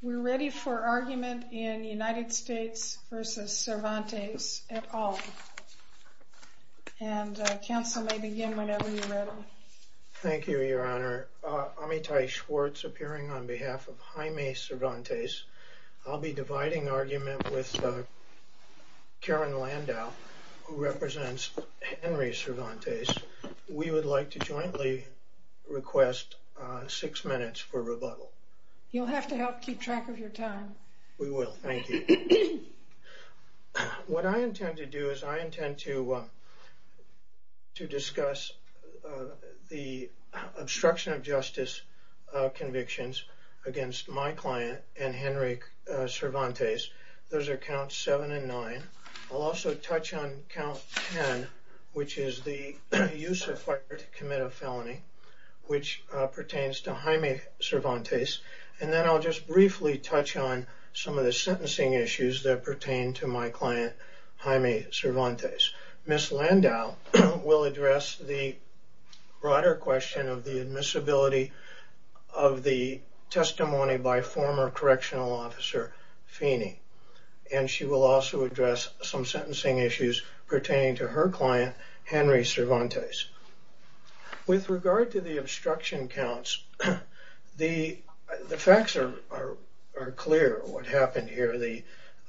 We're ready for argument in United States v. Cervantes et al. And counsel may begin whenever you're ready. Thank you, Your Honor. Amitai Schwartz appearing on behalf of Jaime Cervantes. I'll be dividing argument with Karen Landau, who represents Henry Cervantes. We would like to jointly request six minutes for rebuttal. You'll have to help keep track of your time. We will. Thank you. What I intend to do is I intend to discuss the obstruction of justice convictions against my client and Henry Cervantes. Those are counts seven and nine. I'll also touch on count ten, which is the use of fire to commit a felony, which pertains to Jaime Cervantes. And then I'll just briefly touch on some of the sentencing issues that pertain to my client, Jaime Cervantes. Ms. Landau will address the broader question of the admissibility of the testimony by former correctional officer Feeney. And she will also address some sentencing issues pertaining to her client, Henry Cervantes. With regard to the obstruction counts, the facts are clear what happened here.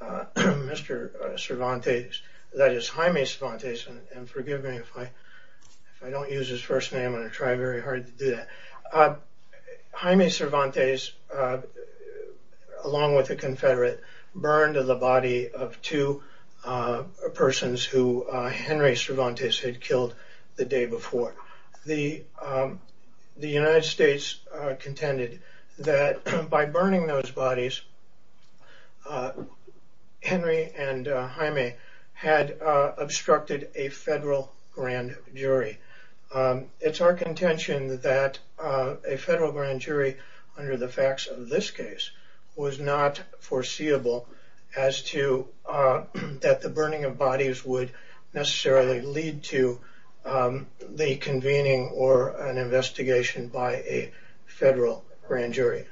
Mr. Cervantes, that is Jaime Cervantes, and forgive me if I don't use his first name. I'm going to try very hard to do that. Jaime Cervantes, along with a confederate, burned the body of two persons who Henry Cervantes had killed the day before. The United States contended that by burning those bodies, Henry and Jaime had obstructed a federal grand jury. It's our contention that a federal grand jury, under the facts of this case, was not foreseeable as to that the burning of bodies would necessarily lead to the convening or an investigation by a federal grand jury.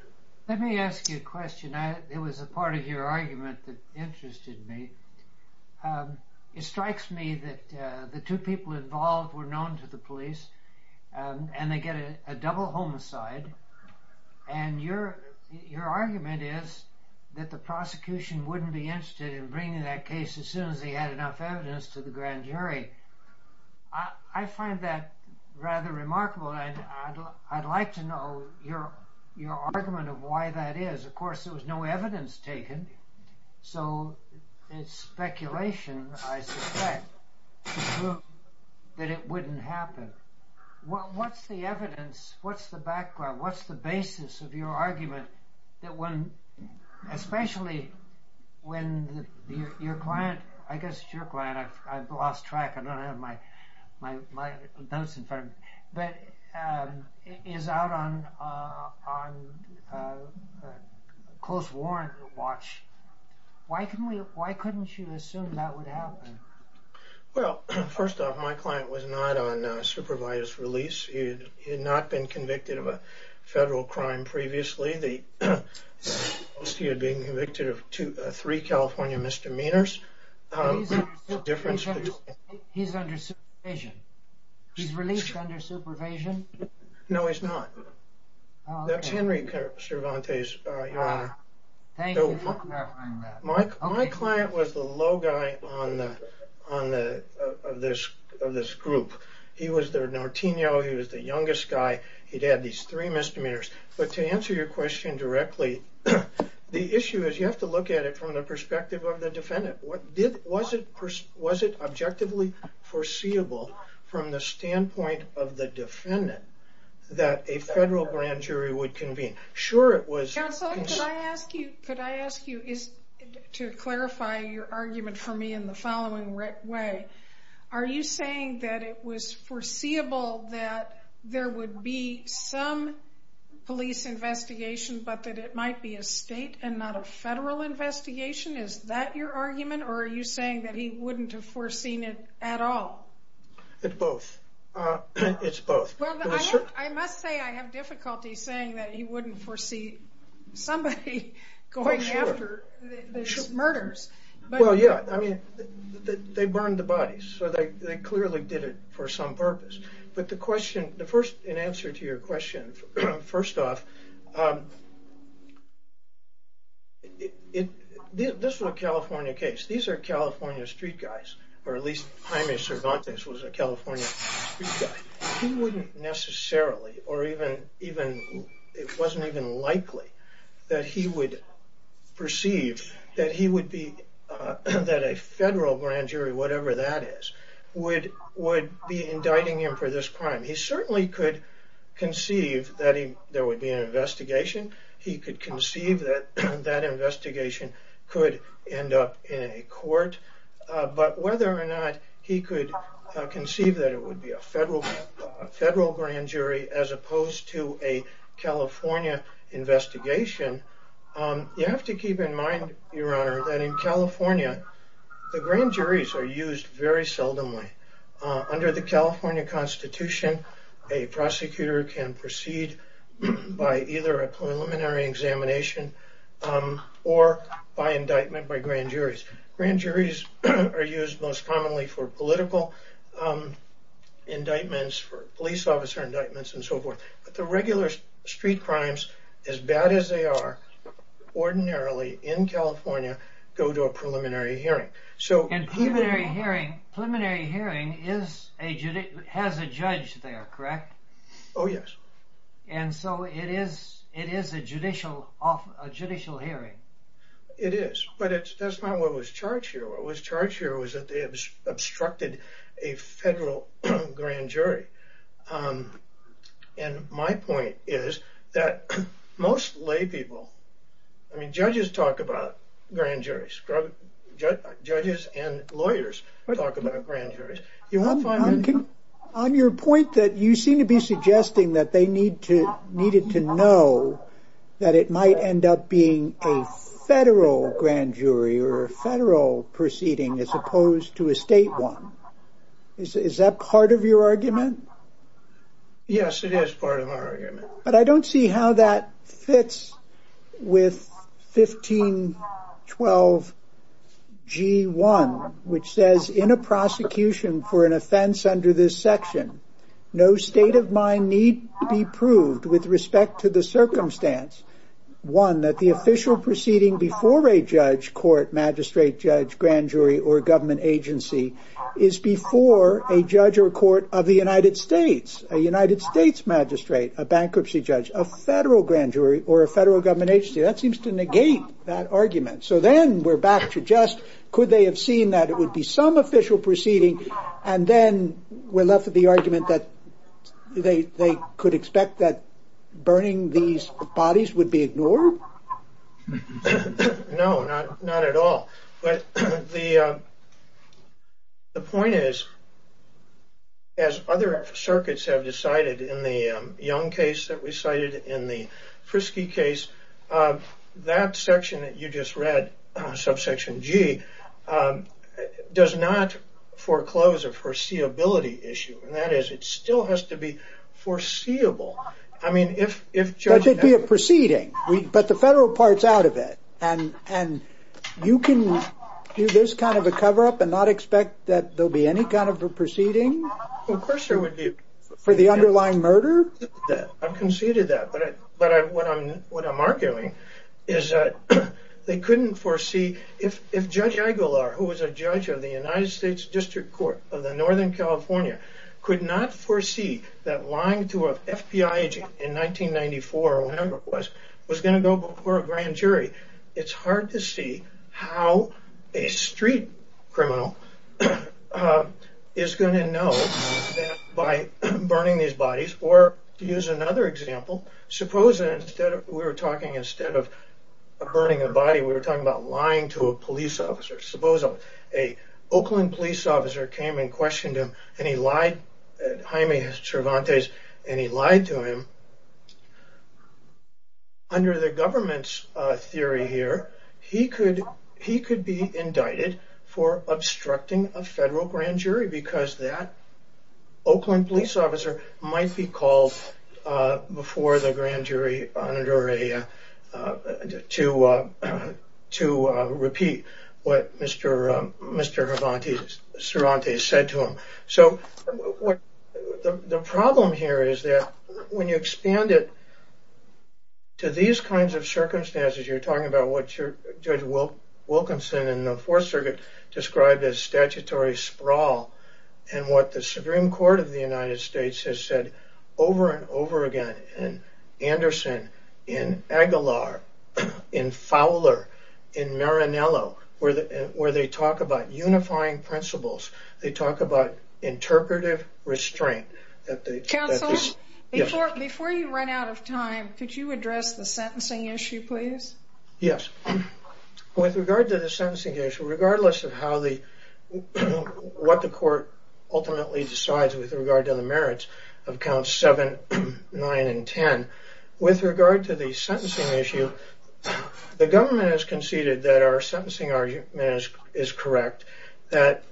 Let me ask you a question. It was a part of your argument that interested me. It strikes me that the two people involved were known to the police, and they get a double homicide, and your argument is that the prosecution wouldn't be interested in bringing that case as soon as they had enough evidence to the grand jury. I find that rather remarkable, and I'd like to know your argument of why that is. Of course, there was no evidence taken, so it's speculation, I suspect, to prove that it wouldn't happen. What's the evidence, what's the background, what's the basis of your argument, especially when your client, I guess it's your client, I've lost track, I don't have my notes in front of me, but is out on close warrant watch. Why couldn't you assume that would happen? Well, first off, my client was not on supervisor's release. He had not been convicted of a federal crime previously. He had been convicted of three California misdemeanors. He's under supervision. He's released under supervision? No, he's not. That's Henry Cervantes, Your Honor. Thank you for clarifying that. My client was the low guy of this group. He was the Norteno, he was the youngest guy. He'd had these three misdemeanors, but to answer your question directly, the issue is you have to look at it from the perspective of the defendant. Was it objectively foreseeable from the standpoint of the defendant that a federal grand jury would convene? Sure it was. Counselor, could I ask you to clarify your argument for me in the following way. Are you saying that it was foreseeable that there would be some police investigation, but that it might be a state and not a federal investigation? Is that your argument, or are you saying that he wouldn't have foreseen it at all? It's both. It's both. I must say I have difficulty saying that he wouldn't foresee somebody going after these murders. Well, yeah. I mean, they burned the bodies, so they clearly did it for some purpose. But the question, the first, in answer to your question, first off, this was a California case. These are California street guys, or at least Jaime Cervantes was a California street guy. He wouldn't necessarily, or it wasn't even likely that he would perceive that he would be, that a federal grand jury, whatever that is, would be indicting him for this crime. He certainly could conceive that there would be an investigation. He could conceive that that investigation could end up in a court. But whether or not he could conceive that it would be a federal grand jury, as opposed to a California investigation, you have to keep in mind, Your Honor, that in California, the grand juries are used very seldomly. Under the California Constitution, a prosecutor can proceed by either a preliminary examination or by indictment by grand juries. Grand juries are used most commonly for political indictments, for police officer indictments, and so forth. But the regular street crimes, as bad as they are, ordinarily, in California, go to a preliminary hearing. And preliminary hearing has a judge there, correct? Oh, yes. And so it is a judicial hearing. It is. But that's not what was charged here. What was charged here was that they obstructed a federal grand jury. And my point is that most lay people, I mean, judges talk about grand juries. Judges and lawyers talk about grand juries. On your point that you seem to be suggesting that they needed to know that it might end up being a federal grand jury or a federal proceeding as opposed to a state one. Is that part of your argument? Yes, it is part of our argument. But I don't see how that fits with 1512 G1, which says in a prosecution for an offense under this section, no state of mind need be proved with respect to the circumstance, one, that the official proceeding before a judge, court, magistrate, judge, grand jury, or government agency is before a judge or court of the United States, a United States magistrate, a bankruptcy judge, a federal grand jury, or a federal government agency. That seems to negate that argument. So then we're back to just could they have seen that it would be some official proceeding and then we're left with the argument that they could expect that burning these bodies would be ignored? No, not at all. But the point is, as other circuits have decided in the Young case that we cited, in the Frisky case, that section that you just read, subsection G, does not foreclose a foreseeability issue. And that is it still has to be foreseeable. I mean, if judge... That could be a proceeding, but the federal part's out of it. And you can do this kind of a cover-up and not expect that there'll be any kind of a proceeding? Of course there would be. For the underlying murder? I've conceded that. But what I'm arguing is that they couldn't foresee... If judge Igular, who was a judge of the United States District Court of Northern California, could not foresee that lying to a FBI agent in 1994 or whenever it was, was going to go before a grand jury, it's hard to see how a street criminal is going to know that by burning these bodies. Or to use another example, suppose that instead of... We were talking instead of burning a body, we were talking about lying to a police officer. Suppose a Oakland police officer came and questioned him and he lied... Jaime Cervantes, and he lied to him. Under the government's theory here, he could be indicted for obstructing a federal grand jury because that Oakland police officer might be called before the grand jury to repeat what Mr. Cervantes said to him. So the problem here is that when you expand it to these kinds of circumstances, you're talking about what Judge Wilkinson in the Fourth Circuit described as statutory sprawl and what the Supreme Court of the United States has said over and over again, in Anderson, in Igular, in Fowler, in Marinello, where they talk about unifying principles. They talk about interpretive restraint. Counsel, before you run out of time, could you address the sentencing issue, please? Yes. With regard to the sentencing issue, regardless of what the court ultimately decides with regard to the merits of counts 7, 9, and 10, with regard to the sentencing issue, the government has conceded that our sentencing argument is correct, that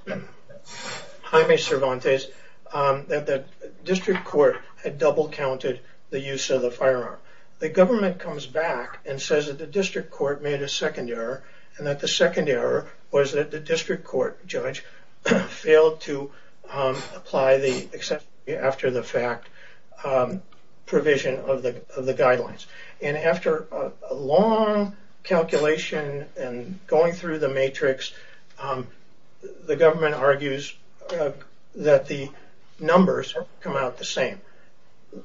Jaime Cervantes, that the district court had double counted the use of the firearm. The government comes back and says that the district court made a second error and that the second error was that the district court judge failed to apply the exception after the fact provision of the guidelines. And after a long calculation and going through the matrix, the government argues that the numbers come out the same.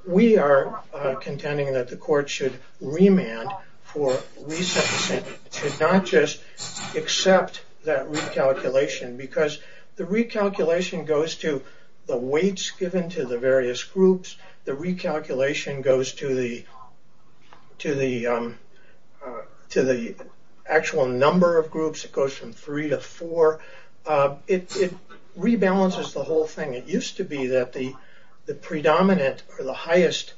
We are contending that the court should remand for re-sentencing. It should not just accept that recalculation because the recalculation goes to the weights given to the various groups. The recalculation goes to the actual number of groups. It goes from three to four. It rebalances the whole thing. It used to be that the predominant or the highest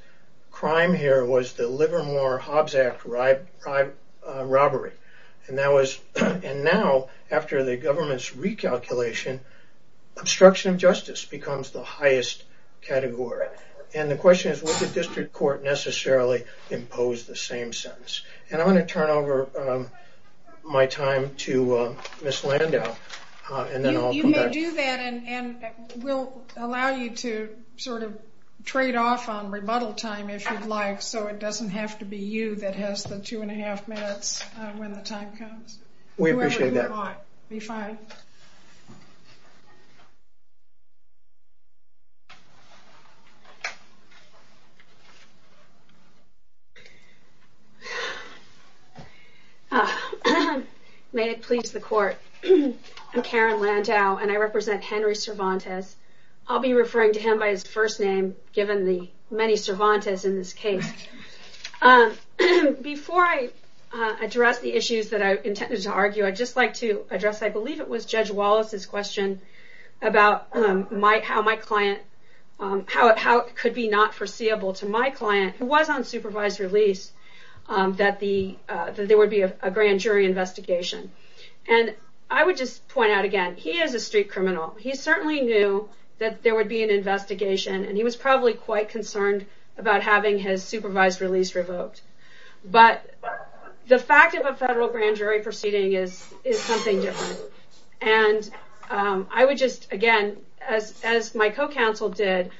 crime here was the Livermore Hobbs Act robbery. And now, after the government's recalculation, obstruction of justice becomes the highest category. And the question is, would the district court necessarily impose the same sentence? And I'm going to turn over my time to Ms. Landau. You may do that and we'll allow you to sort of trade off on rebuttal time if you'd like, so it doesn't have to be you that has the two and a half minutes when the time comes. We appreciate that. Be fine. May it please the court. I'm Karen Landau and I represent Henry Cervantes. I'll be referring to him by his first name, given the many Cervantes in this case. Before I address the issues that I intended to argue, I'd just like to address, I believe it was Judge Wallace's question, about how it could be not foreseeable to my client, who was on supervised release, that there would be a grand jury investigation. And I would just point out again, he is a street criminal. He certainly knew that there would be an investigation and he was probably quite concerned about having his supervised release revoked. But the fact of a federal grand jury proceeding is something different. And I would just, again, as my co-counsel did,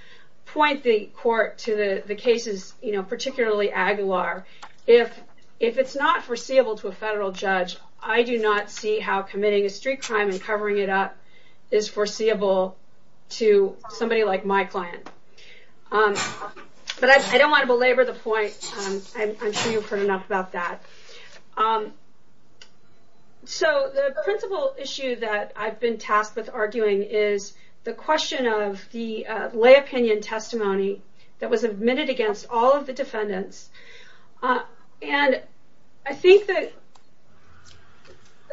point the court to the cases, particularly Aguilar. If it's not foreseeable to a federal judge, I do not see how committing a street crime and covering it up is foreseeable to somebody like my client. But I don't want to belabor the point. I'm sure you've heard enough about that. So the principal issue that I've been tasked with arguing is the question of the lay opinion testimony that was admitted against all of the defendants.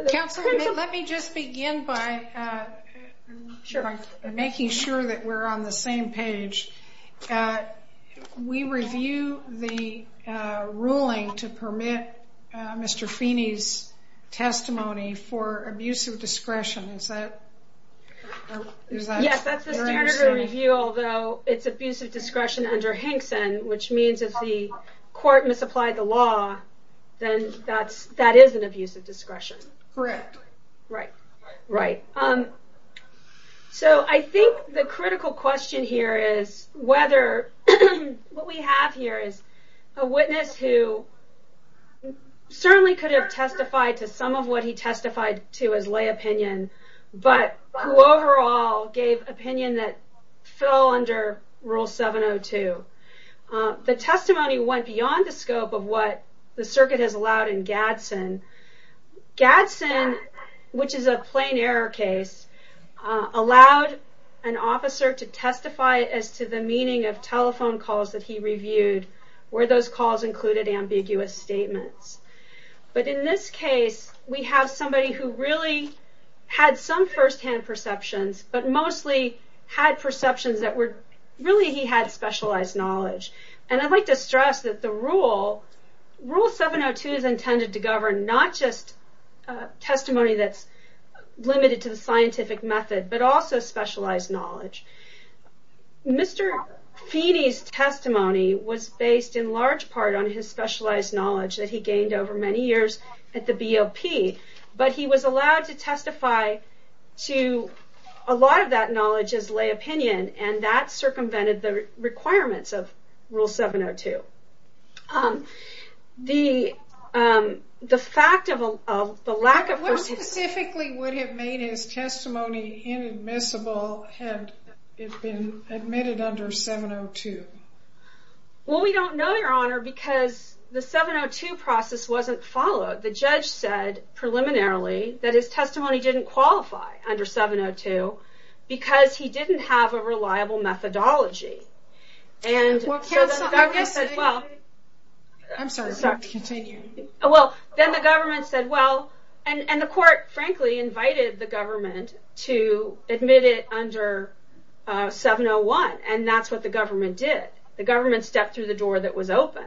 Counsel, let me just begin by making sure that we're on the same page. We review the ruling to permit Mr. Feeney's testimony for abuse of discretion. Yes, that's the standard of review, although it's abuse of discretion under Hinkson, which means if the court misapplied the law, then that is an abuse of discretion. Correct. Right. Right. So I think the critical question here is whether what we have here is a witness who certainly could have testified to some of what he testified to as lay opinion, but who overall gave opinion that fell under Rule 702. The testimony went beyond the scope of what the circuit has allowed in Gadsden. Gadsden, which is a plain error case, allowed an officer to testify as to the meaning of telephone calls that he reviewed, where those calls included ambiguous statements. But in this case, we have somebody who really had some firsthand perceptions, but mostly had perceptions that really he had specialized knowledge. And I'd like to stress that Rule 702 is intended to govern not just testimony that's limited to the scientific method, but also specialized knowledge. Mr. Feeney's testimony was based in large part on his specialized knowledge that he gained over many years at the BOP, but he was allowed to testify to a lot of that knowledge as lay opinion, and that circumvented the requirements of Rule 702. The fact of the lack of... What specifically would have made his testimony inadmissible had it been admitted under 702? Well, we don't know, Your Honor, because the 702 process wasn't followed. The judge said preliminarily that his testimony didn't qualify under 702 because he didn't have a reliable methodology. And so then the government said, well... I'm sorry, continue. Well, then the government said, well... And the court, frankly, invited the government to admit it under 701, and that's what the government did. The government stepped through the door that was open.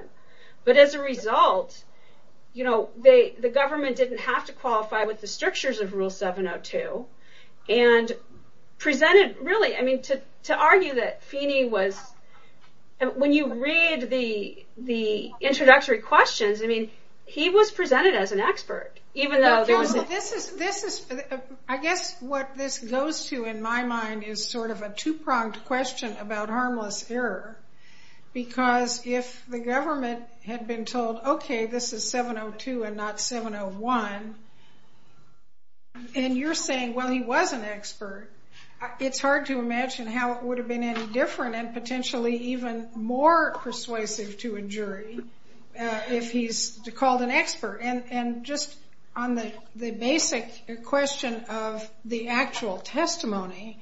But as a result, the government didn't have to qualify with the strictures of Rule 702. And presented, really, I mean, to argue that Feeney was... When you read the introductory questions, I mean, he was presented as an expert, even though there was... Counsel, this is... I guess what this goes to in my mind is sort of a two-pronged question about harmless error. Because if the government had been told, okay, this is 702 and not 701, and you're saying, well, he was an expert, it's hard to imagine how it would have been any different and potentially even more persuasive to a jury if he's called an expert. And just on the basic question of the actual testimony,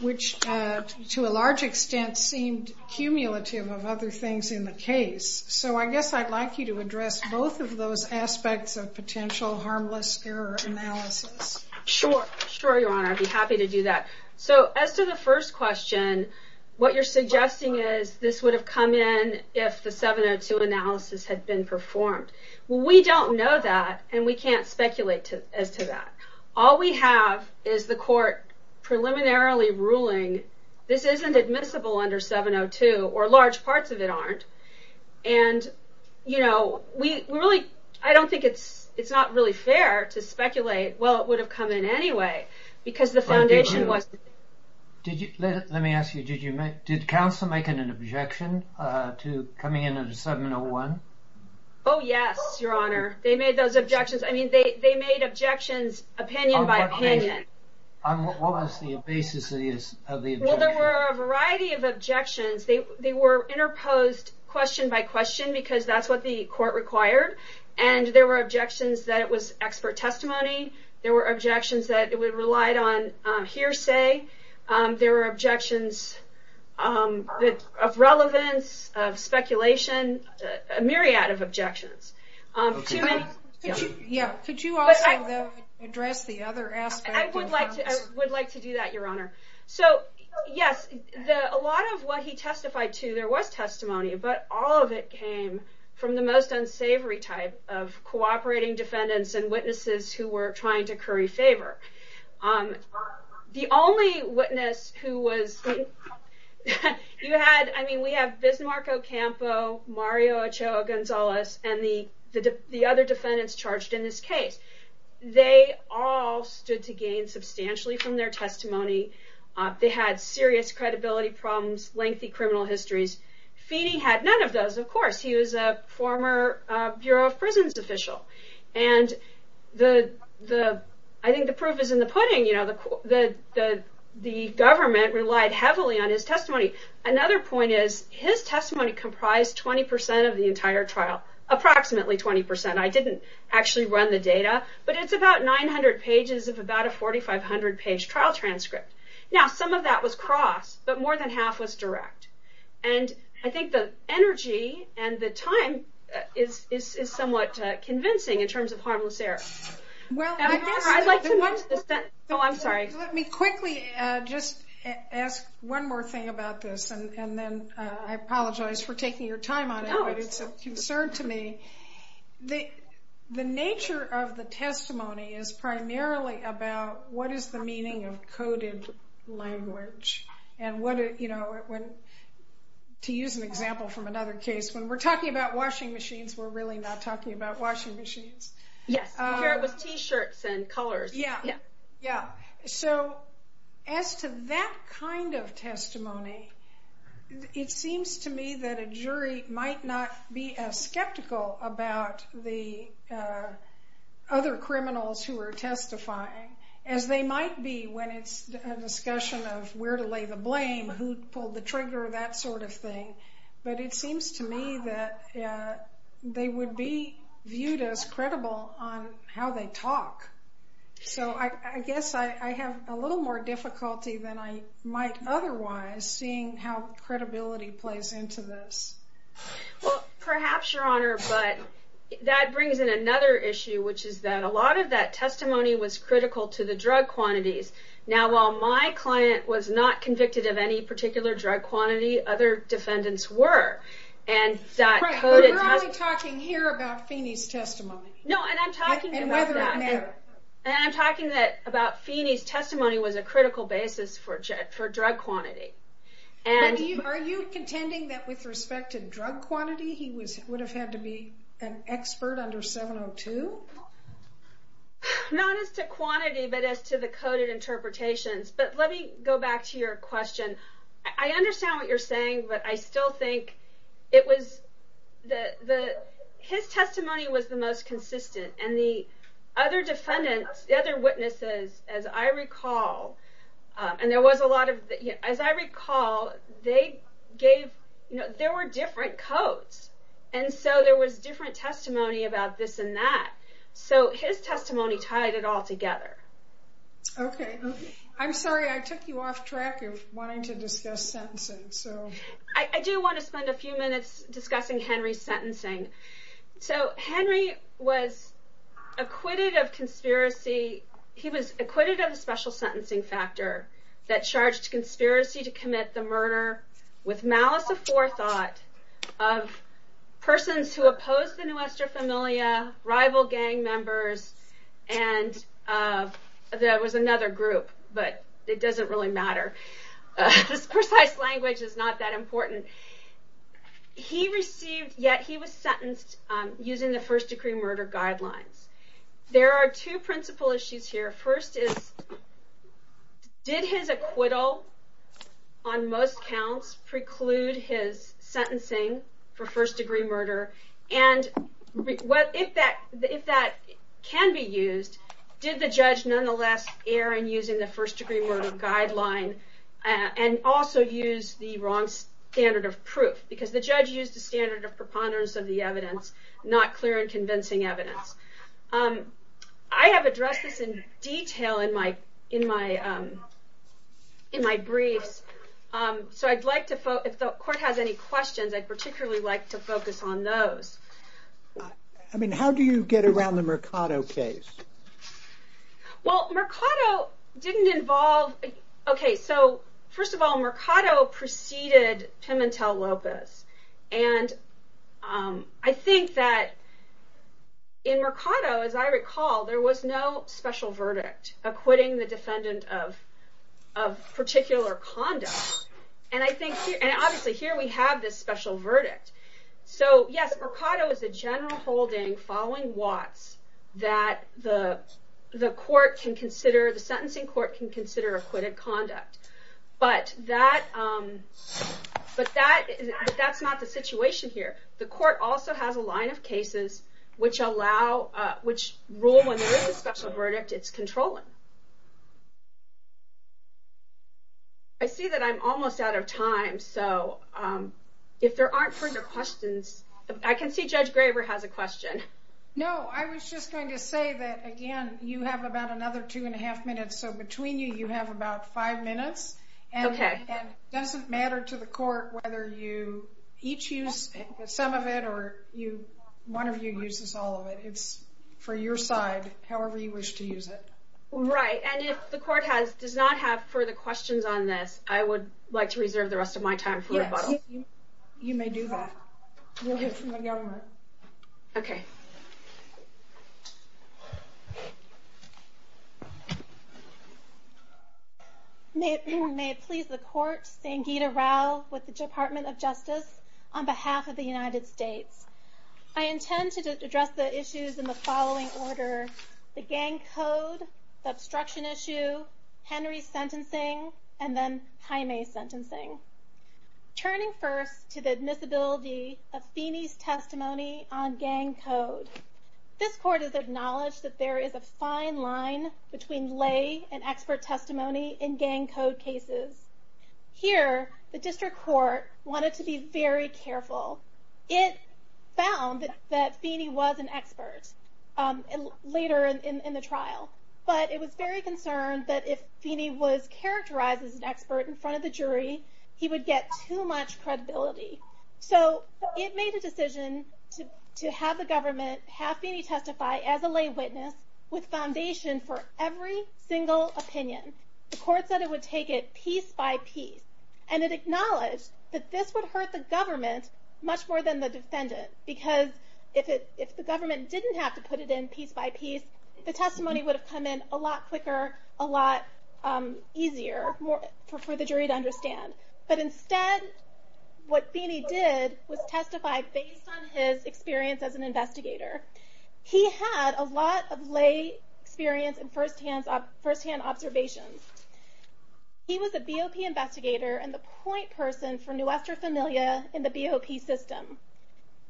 which to a large extent seemed cumulative of other things in the case. So I guess I'd like you to address both of those aspects of potential harmless error analysis. Sure. Sure, Your Honor. I'd be happy to do that. So as to the first question, what you're suggesting is this would have come in if the 702 analysis had been performed. Well, we don't know that, and we can't speculate as to that. All we have is the court preliminarily ruling this isn't admissible under 702, or large parts of it aren't. And, you know, we really... I don't think it's not really fair to speculate, well, it would have come in anyway, because the foundation wasn't... Let me ask you, did counsel make an objection to coming in under 701? Oh, yes, Your Honor. They made those objections. I mean, they made objections opinion by opinion. On what was the basis of the objections? Well, there were a variety of objections. They were interposed question by question, because that's what the court required. And there were objections that it was expert testimony. There were objections that it relied on hearsay. There were objections of relevance, of speculation, a myriad of objections. Could you also address the other aspect? I would like to do that, Your Honor. So, yes, a lot of what he testified to, there was testimony, but all of it came from the most unsavory type of cooperating defendants and witnesses who were trying to curry favor. The only witness who was... I mean, we have Bismarck Ocampo, Mario Ochoa Gonzalez, and the other defendants charged in this case. They all stood to gain substantially from their testimony. They had serious credibility problems, lengthy criminal histories. Feeney had none of those, of course. He was a former Bureau of Prisons official. And I think the proof is in the pudding. The government relied heavily on his testimony. Another point is, his testimony comprised 20% of the entire trial, approximately 20%. I didn't actually run the data, but it's about 900 pages of about a 4,500 page trial transcript. Now, some of that was cross, but more than half was direct. And I think the energy and the time is somewhat convincing in terms of harmless error. Well, I guess... I'd like to move to the... Oh, I'm sorry. Let me quickly just ask one more thing about this, and then I apologize for taking your time on it, but it's a concern to me. The nature of the testimony is primarily about what is the meaning of coded language. And to use an example from another case, when we're talking about washing machines, we're really not talking about washing machines. Yes. Here it was t-shirts and colors. So, as to that kind of testimony, it seems to me that a jury might not be as skeptical about the other criminals who are testifying, as they might be when it's a discussion of where to lay the blame, who pulled the trigger, that sort of thing. But it seems to me that they would be viewed as credible on how they talk. So, I guess I have a little more difficulty than I might otherwise seeing how credibility plays into this. Well, perhaps, Your Honor, but that brings in another issue, which is that a lot of that testimony was critical to the drug quantities. Now, while my client was not convicted of any particular drug quantity, other defendants were. Right, but we're only talking here about Feeney's testimony. No, and I'm talking about that. And whether or never. And I'm talking about Feeney's testimony was a critical basis for drug quantity. Are you contending that with respect to drug quantity, he would have had to be an expert under 702? Not as to quantity, but as to the coded interpretations. But let me go back to your question. I understand what you're saying, but I still think his testimony was the most consistent. And the other defendants, the other witnesses, as I recall, there were different codes. And so, there was different testimony about this and that. So, his testimony tied it all together. Okay, I'm sorry I took you off track of wanting to discuss sentencing. I do want to spend a few minutes discussing Henry's sentencing. So, Henry was acquitted of conspiracy. He was acquitted of the special sentencing factor that charged conspiracy to commit the murder with malice aforethought of persons who opposed the Nuestra Familia, rival gang members, and there was another group, but it doesn't really matter. This precise language is not that important. He received, yet he was sentenced using the first degree murder guidelines. There are two principal issues here. First is, did his acquittal on most counts preclude his sentencing for first degree murder? And if that can be used, did the judge nonetheless err in using the first degree murder guideline and also use the wrong standard of proof? Because the judge used the standard of preponderance of the evidence, not clear and convincing evidence. I have addressed this in detail in my briefs, so if the court has any questions, I'd particularly like to focus on those. I mean, how do you get around the Mercado case? Well, Mercado preceded Pimentel-Lopez, and I think that in Mercado, as I recall, there was no special verdict acquitting the defendant of particular conduct. And obviously, here we have this special verdict. So yes, Mercado is a general holding following Watts that the court can consider, the sentencing court can consider acquitted conduct. But that's not the situation here. The court also has a line of cases which rule when there is a special verdict, it's controlling. I see that I'm almost out of time. So if there aren't further questions, I can see Judge Graver has a question. No, I was just going to say that, again, you have about another two and a half minutes. So between you, you have about five minutes. And it doesn't matter to the court whether you each use some of it or one of you uses all of it. It's for your side, however you wish to use it. Right, and if the court does not have further questions on this, I would like to reserve the rest of my time for rebuttal. Yes, you may do that. We'll hear from the government. Okay. May it please the court, Sangeeta Rao with the Department of Justice, on behalf of the United States. I intend to address the issues in the following order. The gang code, the obstruction issue, Henry's sentencing, and then Jaime's sentencing. Turning first to the admissibility of Feeney's testimony on gang code. This court has acknowledged that there is a fine line between lay and expert testimony in gang code cases. Here, the district court wanted to be very careful. It found that Feeney was an expert later in the trial. But it was very concerned that if Feeney was characterized as an expert in front of the jury, he would get too much credibility. So it made a decision to have the government have Feeney testify as a lay witness with foundation for every single opinion. The court said it would take it piece by piece. And it acknowledged that this would hurt the government much more than the defendant. Because if the government didn't have to put it in piece by piece, the testimony would have come in a lot quicker, a lot easier for the jury to understand. But instead, what Feeney did was testify based on his experience as an investigator. He had a lot of lay experience and firsthand observations. He was a BOP investigator and the point person for Nuestra Familia in the BOP system.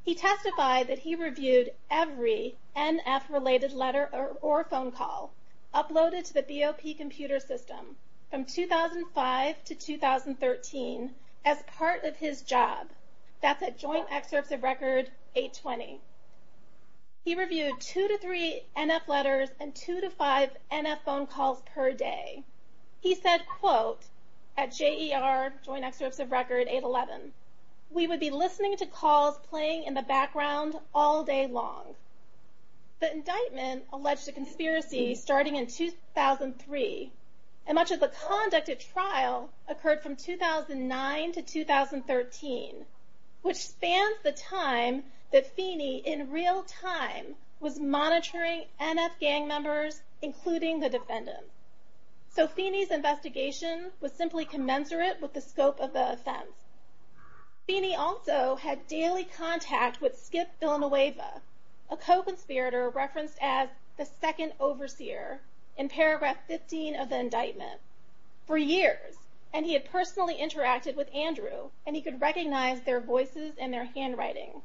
He testified that he reviewed every NF-related letter or phone call uploaded to the BOP computer system from 2005 to 2013 as part of his job. That's at Joint Excerpts of Record 820. He reviewed two to three NF letters and two to five NF phone calls per day. He said, quote, at JER, Joint Excerpts of Record 811, we would be listening to calls playing in the background all day long. The indictment alleged a conspiracy starting in 2003. And much of the conduct of trial occurred from 2009 to 2013, which spans the time that Feeney in real time was monitoring NF gang members, including the defendant. So Feeney's investigation was simply commensurate with the scope of the offense. Feeney also had daily contact with Skip Villanueva, a co-conspirator referenced as the second overseer in paragraph 15 of the indictment, for years. And he had personally interacted with Andrew, and he could recognize their voices and their handwriting.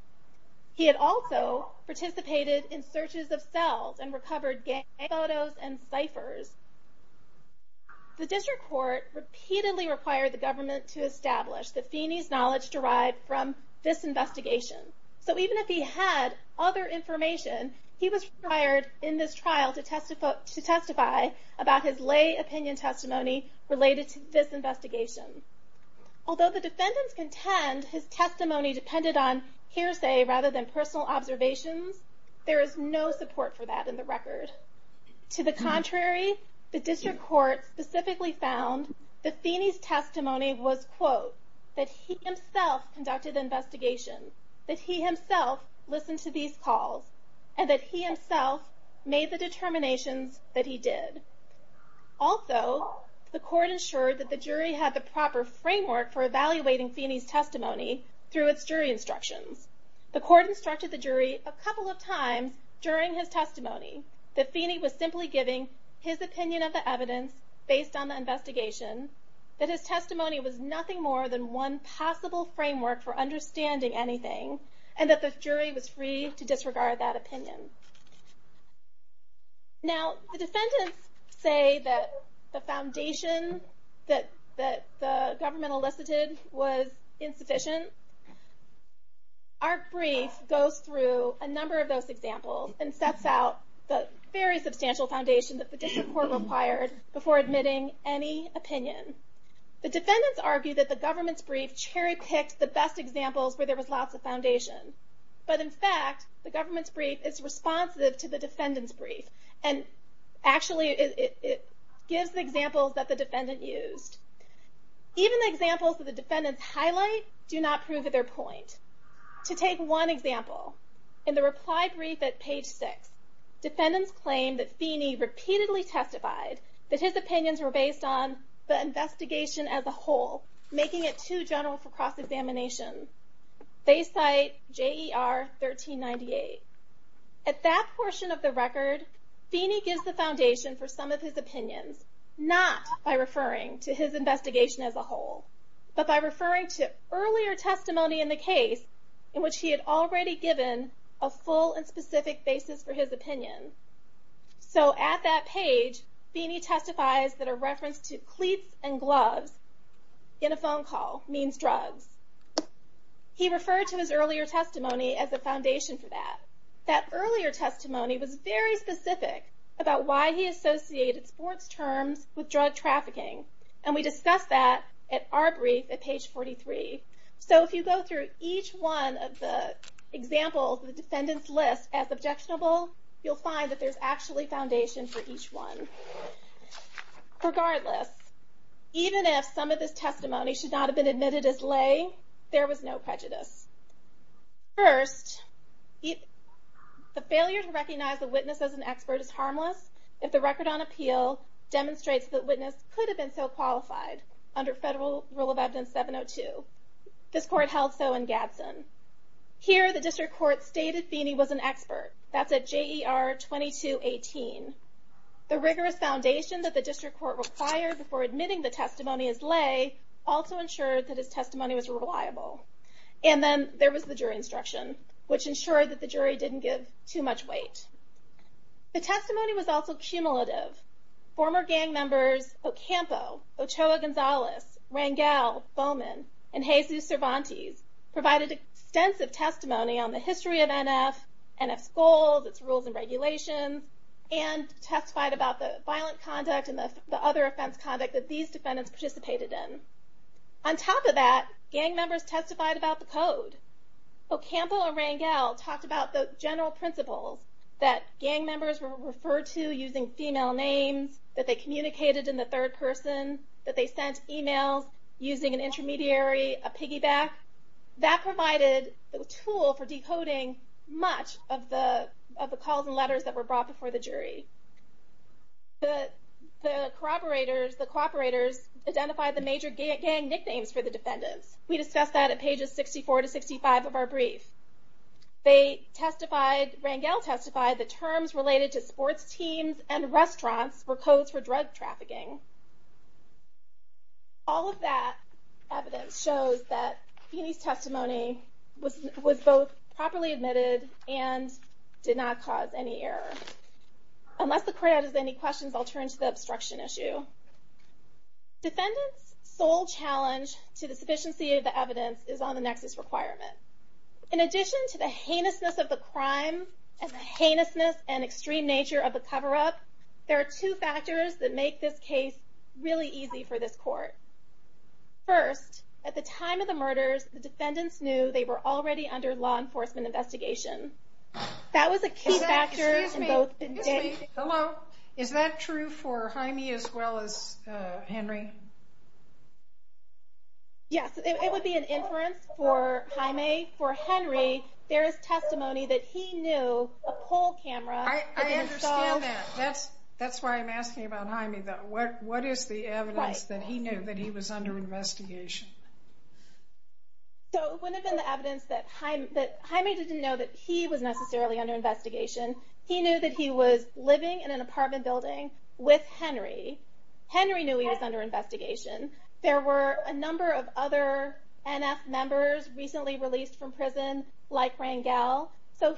He had also participated in searches of cells and recovered gang photos and ciphers. The district court repeatedly required the government to establish that Feeney's knowledge derived from this investigation. So even if he had other information, he was required in this trial to testify about his lay opinion testimony related to this investigation. Although the defendants contend his testimony depended on hearsay rather than personal observations, there is no support for that in the record. To the contrary, the district court specifically found that Feeney's testimony was, quote, that he himself conducted the investigation, that he himself listened to these calls, and that he himself made the determinations that he did. Also, the court ensured that the jury had the proper framework for evaluating Feeney's testimony through its jury instructions. The court instructed the jury a couple of times during his testimony that Feeney was simply giving his opinion of the evidence based on the investigation, that his testimony was nothing more than one possible framework for understanding anything, and that the jury was free to disregard that opinion. Now, the defendants say that the foundation that the government elicited was insufficient. Our brief goes through a number of those examples and sets out the very substantial foundation that the district court required before admitting any opinion. The defendants argue that the government's brief cherry-picked the best examples where there was lots of foundation. But in fact, the government's brief is responsive to the defendants' brief and actually it gives the examples that the defendant used. Even the examples that the defendants highlight do not prove their point. To take one example, in the reply brief at page 6, defendants claim that Feeney repeatedly testified that his opinions were based on the investigation as a whole, making it too general for cross-examination. They cite J.E.R. 1398. At that portion of the record, Feeney gives the foundation for some of his opinions, not by referring to his investigation as a whole, but by referring to earlier testimony in the case in which he had already given a full and specific basis for his opinion. So at that page, Feeney testifies that a reference to cleats and gloves in a phone call means drugs. He referred to his earlier testimony as the foundation for that. That earlier testimony was very specific about why he associated sports terms with drug trafficking, and we discussed that at our brief at page 43. So if you go through each one of the examples the defendants list as objectionable, you'll find that there's actually foundation for each one. Regardless, even if some of this testimony should not have been admitted as lay, there was no prejudice. First, the failure to recognize the witness as an expert is harmless if the record on appeal demonstrates the witness could have been so qualified under federal rule of evidence 702. This court held so in Gadsden. Here the district court stated Feeney was an expert. That's at JER 2218. The rigorous foundation that the district court required before admitting the testimony as lay also ensured that his testimony was reliable. And then there was the jury instruction, which ensured that the jury didn't give too much weight. The testimony was also cumulative. Former gang members Ocampo, Ochoa Gonzalez, Rangel, Bowman, and Jesus Cervantes provided extensive testimony on the history of NF, NF's goals, its rules and regulations, and testified about the violent conduct and the other offense conduct that these defendants participated in. On top of that, gang members testified about the code. Ocampo and Rangel talked about the general principles that gang members were referred to using female names, that they communicated in the third person, that they sent emails using an intermediary, a piggyback. That provided a tool for decoding much of the calls and letters that were brought before the jury. The cooperators identified the major gang nicknames for the defendants. We discussed that at pages 64 to 65 of our brief. Rangel testified the terms related to sports teams and restaurants were codes for drug trafficking. All of that evidence shows that Feeney's testimony was both properly admitted and did not cause any error. Unless the crowd has any questions, I'll turn to the obstruction issue. Defendants' sole challenge to the sufficiency of the evidence is on the nexus requirement. In addition to the heinousness of the crime and the heinousness and extreme nature of the cover-up, there are two factors that make this case really easy for this court. First, at the time of the murders, the defendants knew they were already under law enforcement investigation. That was a key factor in both indictments. Excuse me. Hello. Is that true for Jaime as well as Henry? Yes. It would be an inference for Jaime. For Henry, there is testimony that he knew a pole camera I understand that. That's why I'm asking about Jaime. What is the evidence that he knew that he was under investigation? It wouldn't have been the evidence that Jaime didn't know that he was necessarily under investigation. He knew that he was living in an apartment building with Henry. Henry knew he was under investigation. There were a number of other NF members recently released from prison, like Rangel.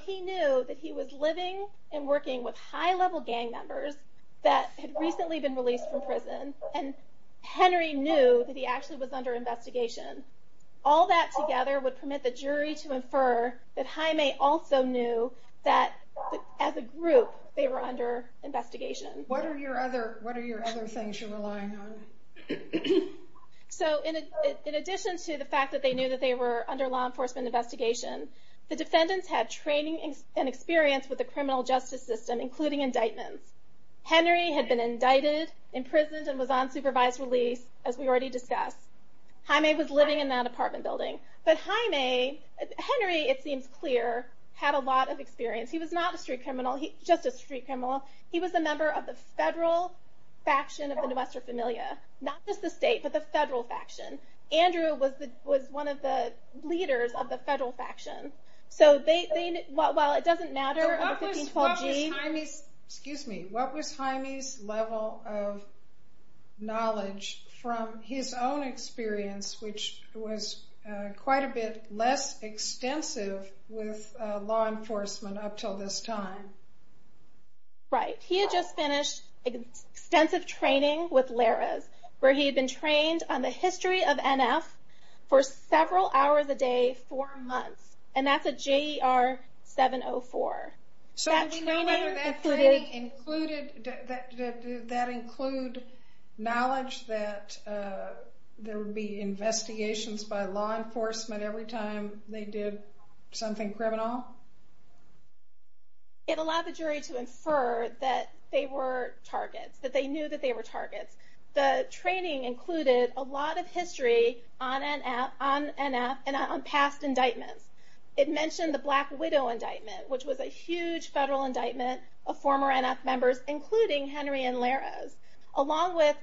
He knew that he was living and working with high-level gang members that had recently been released from prison. Henry knew that he actually was under investigation. All that together would permit the jury to infer that Jaime also knew that, as a group, they were under investigation. What are your other things you're relying on? In addition to the fact that they knew that they were under law enforcement investigation, the defendants had training and experience with the criminal justice system, including indictments. Henry had been indicted, imprisoned, and was on supervised release, as we already discussed. Jaime was living in that apartment building. But Jaime, Henry, it seems clear, had a lot of experience. He was not a street criminal, just a street criminal. He was a member of the federal faction of the Nuestra Familia. Not just the state, but the federal faction. Andrew was one of the leaders of the federal faction. So while it doesn't matter of the 1512 G's. Excuse me. What was Jaime's level of knowledge from his own experience, which was quite a bit less extensive with law enforcement up until this time? Right. He had just finished extensive training with Larris, where he had been trained on the history of NF for several hours a day, four months. And that's a JER 704. So we know whether that training included, did that include knowledge that there would be investigations by law enforcement every time they did something criminal? It allowed the jury to infer that they were targets, that they knew that they were targets. The training included a lot of history on NF and on past indictments. It mentioned the Black Widow indictment, which was a huge federal indictment of former NF members, including Henry and Larris. Along with,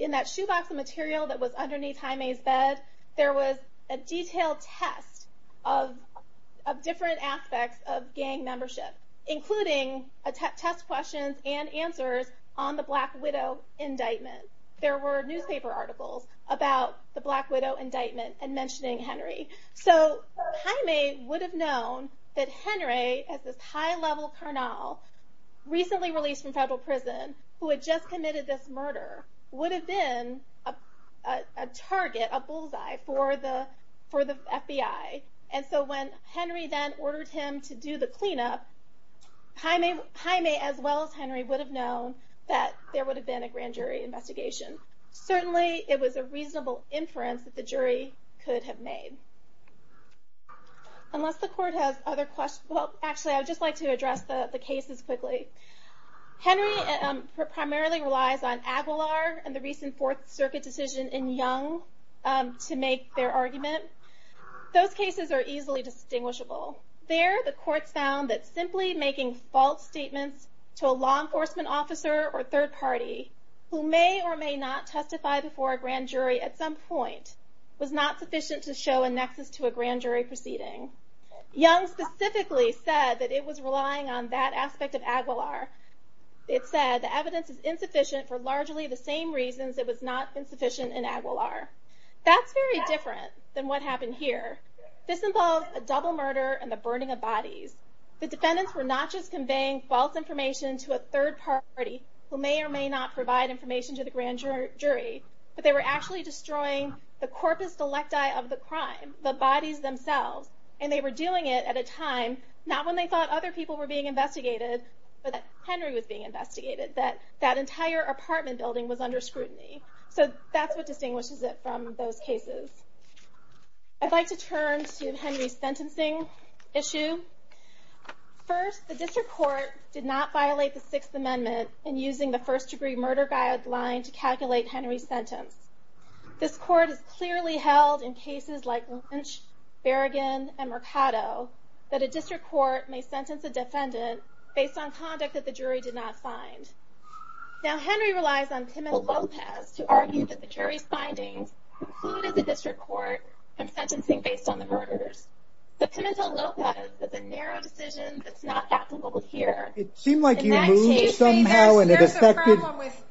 in that shoebox of material that was underneath Jaime's bed, there was a detailed test of different aspects of gang membership, including test questions and answers on the Black Widow indictment. There were newspaper articles about the Black Widow indictment and mentioning Henry. So Jaime would have known that Henry, as this high-level carnal recently released from federal prison, who had just committed this murder, would have been a target, a bullseye for the FBI. And so when Henry then ordered him to do the cleanup, Jaime, as well as Henry, would have known that there would have been a grand jury investigation. Certainly it was a reasonable inference that the jury could have made. Unless the court has other questions, well, actually, I would just like to address the cases quickly. Henry primarily relies on Aguilar and the recent Fourth Circuit decision in Young to make their argument. Those cases are easily distinguishable. There, the courts found that simply making false statements to a law enforcement officer or third party who may or may not testify before a grand jury at some point was not sufficient to show a nexus to a grand jury proceeding. Young specifically said that it was relying on that aspect of Aguilar. It said the evidence is insufficient for largely the same reasons it was not insufficient in Aguilar. That's very different than what happened here. This involved a double murder and the burning of bodies. The defendants were not just conveying false information to a third party who may or may not provide information to the grand jury, but they were actually destroying the corpus delecti of the crime, the bodies themselves. And they were doing it at a time, not when they thought other people were being investigated, but that Henry was being investigated, that that entire apartment building was under scrutiny. So that's what distinguishes it from those cases. I'd like to turn to Henry's sentencing issue. First, the district court did not violate the Sixth Amendment in using the first degree murder guideline to calculate Henry's sentence. This court has clearly held in cases like Lynch, Berrigan, and Mercado, that a district court may sentence a defendant based on conduct that the jury did not find. Now Henry relies on Pimentel-Lopez to argue that the jury's findings precluded the district court from sentencing based on the murders. But Pimentel-Lopez is a narrow decision that's not applicable here. It seemed like you moved somehow and it affected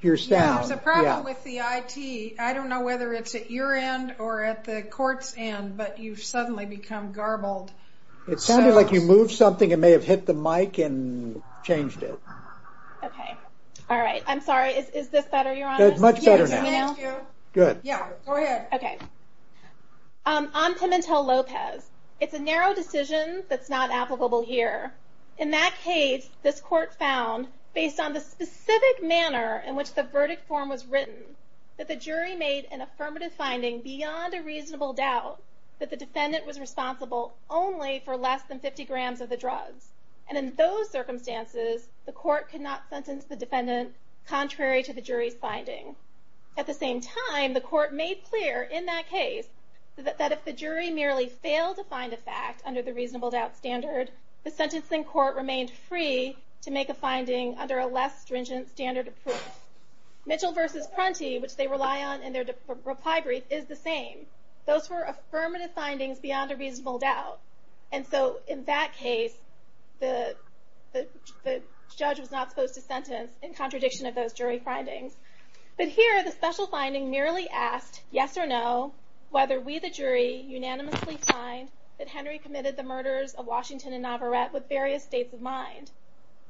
your sound. There's a problem with the IT. I don't know whether it's at your end or at the court's end, but you've suddenly become garbled. It sounded like you moved something. It may have hit the mic and changed it. Okay. All right. I'm sorry. Is this better, Your Honor? It's much better now. Thank you. Good. Yeah, go ahead. Okay. On Pimentel-Lopez, it's a narrow decision that's not applicable here. In that case, this court found, based on the specific manner in which the verdict form was written, that the jury made an affirmative finding beyond a reasonable doubt that the defendant was responsible only for less than 50 grams of the drugs. And in those circumstances, the court could not sentence the defendant contrary to the jury's finding. At the same time, the court made clear in that case that if the jury merely failed to find a fact under the reasonable doubt standard, the sentencing court remained free to make a finding under a less stringent standard of proof. Mitchell v. Prunty, which they rely on in their reply brief, is the same. Those were affirmative findings beyond a reasonable doubt. And so, in that case, the judge was not supposed to sentence in contradiction of those jury findings. But here, the special finding merely asked, yes or no, whether we, the jury, unanimously find that Henry committed the murders of Washington and Navarette with various states of mind.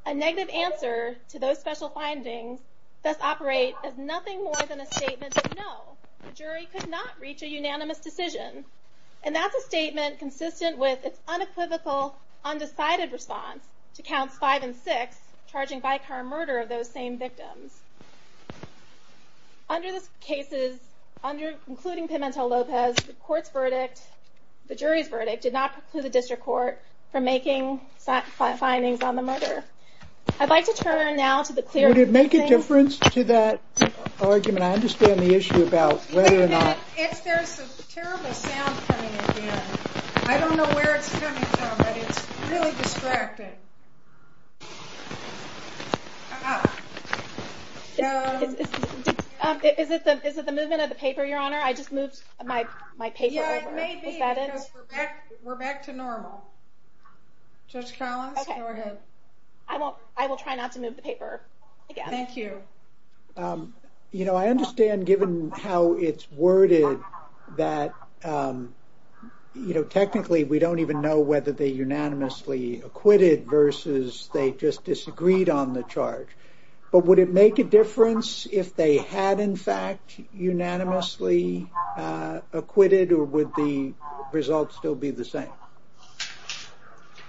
A negative answer to those special findings does operate as nothing more than a statement of no. The jury could not reach a unanimous decision. And that's a statement consistent with its unequivocal, undecided response to counts five and six, charging vicar murder of those same victims. Under the cases, including Pimentel-Lopez, the jury's verdict did not preclude the district court from making findings on the murder. I'd like to turn now to the clear... Would it make a difference to that argument? I understand the issue about whether or not... There's a terrible sound coming in here. I don't know where it's coming from, but it's really distracting. Is it the movement of the paper, Your Honor? I just moved my paper over. Yeah, it may be because we're back to normal. Judge Collins, go ahead. I will try not to move the paper again. Thank you. I understand, given how it's worded, that technically we don't even know whether they unanimously acquitted versus they just disagreed on the charge. But would it make a difference if they had, in fact, unanimously acquitted, or would the results still be the same?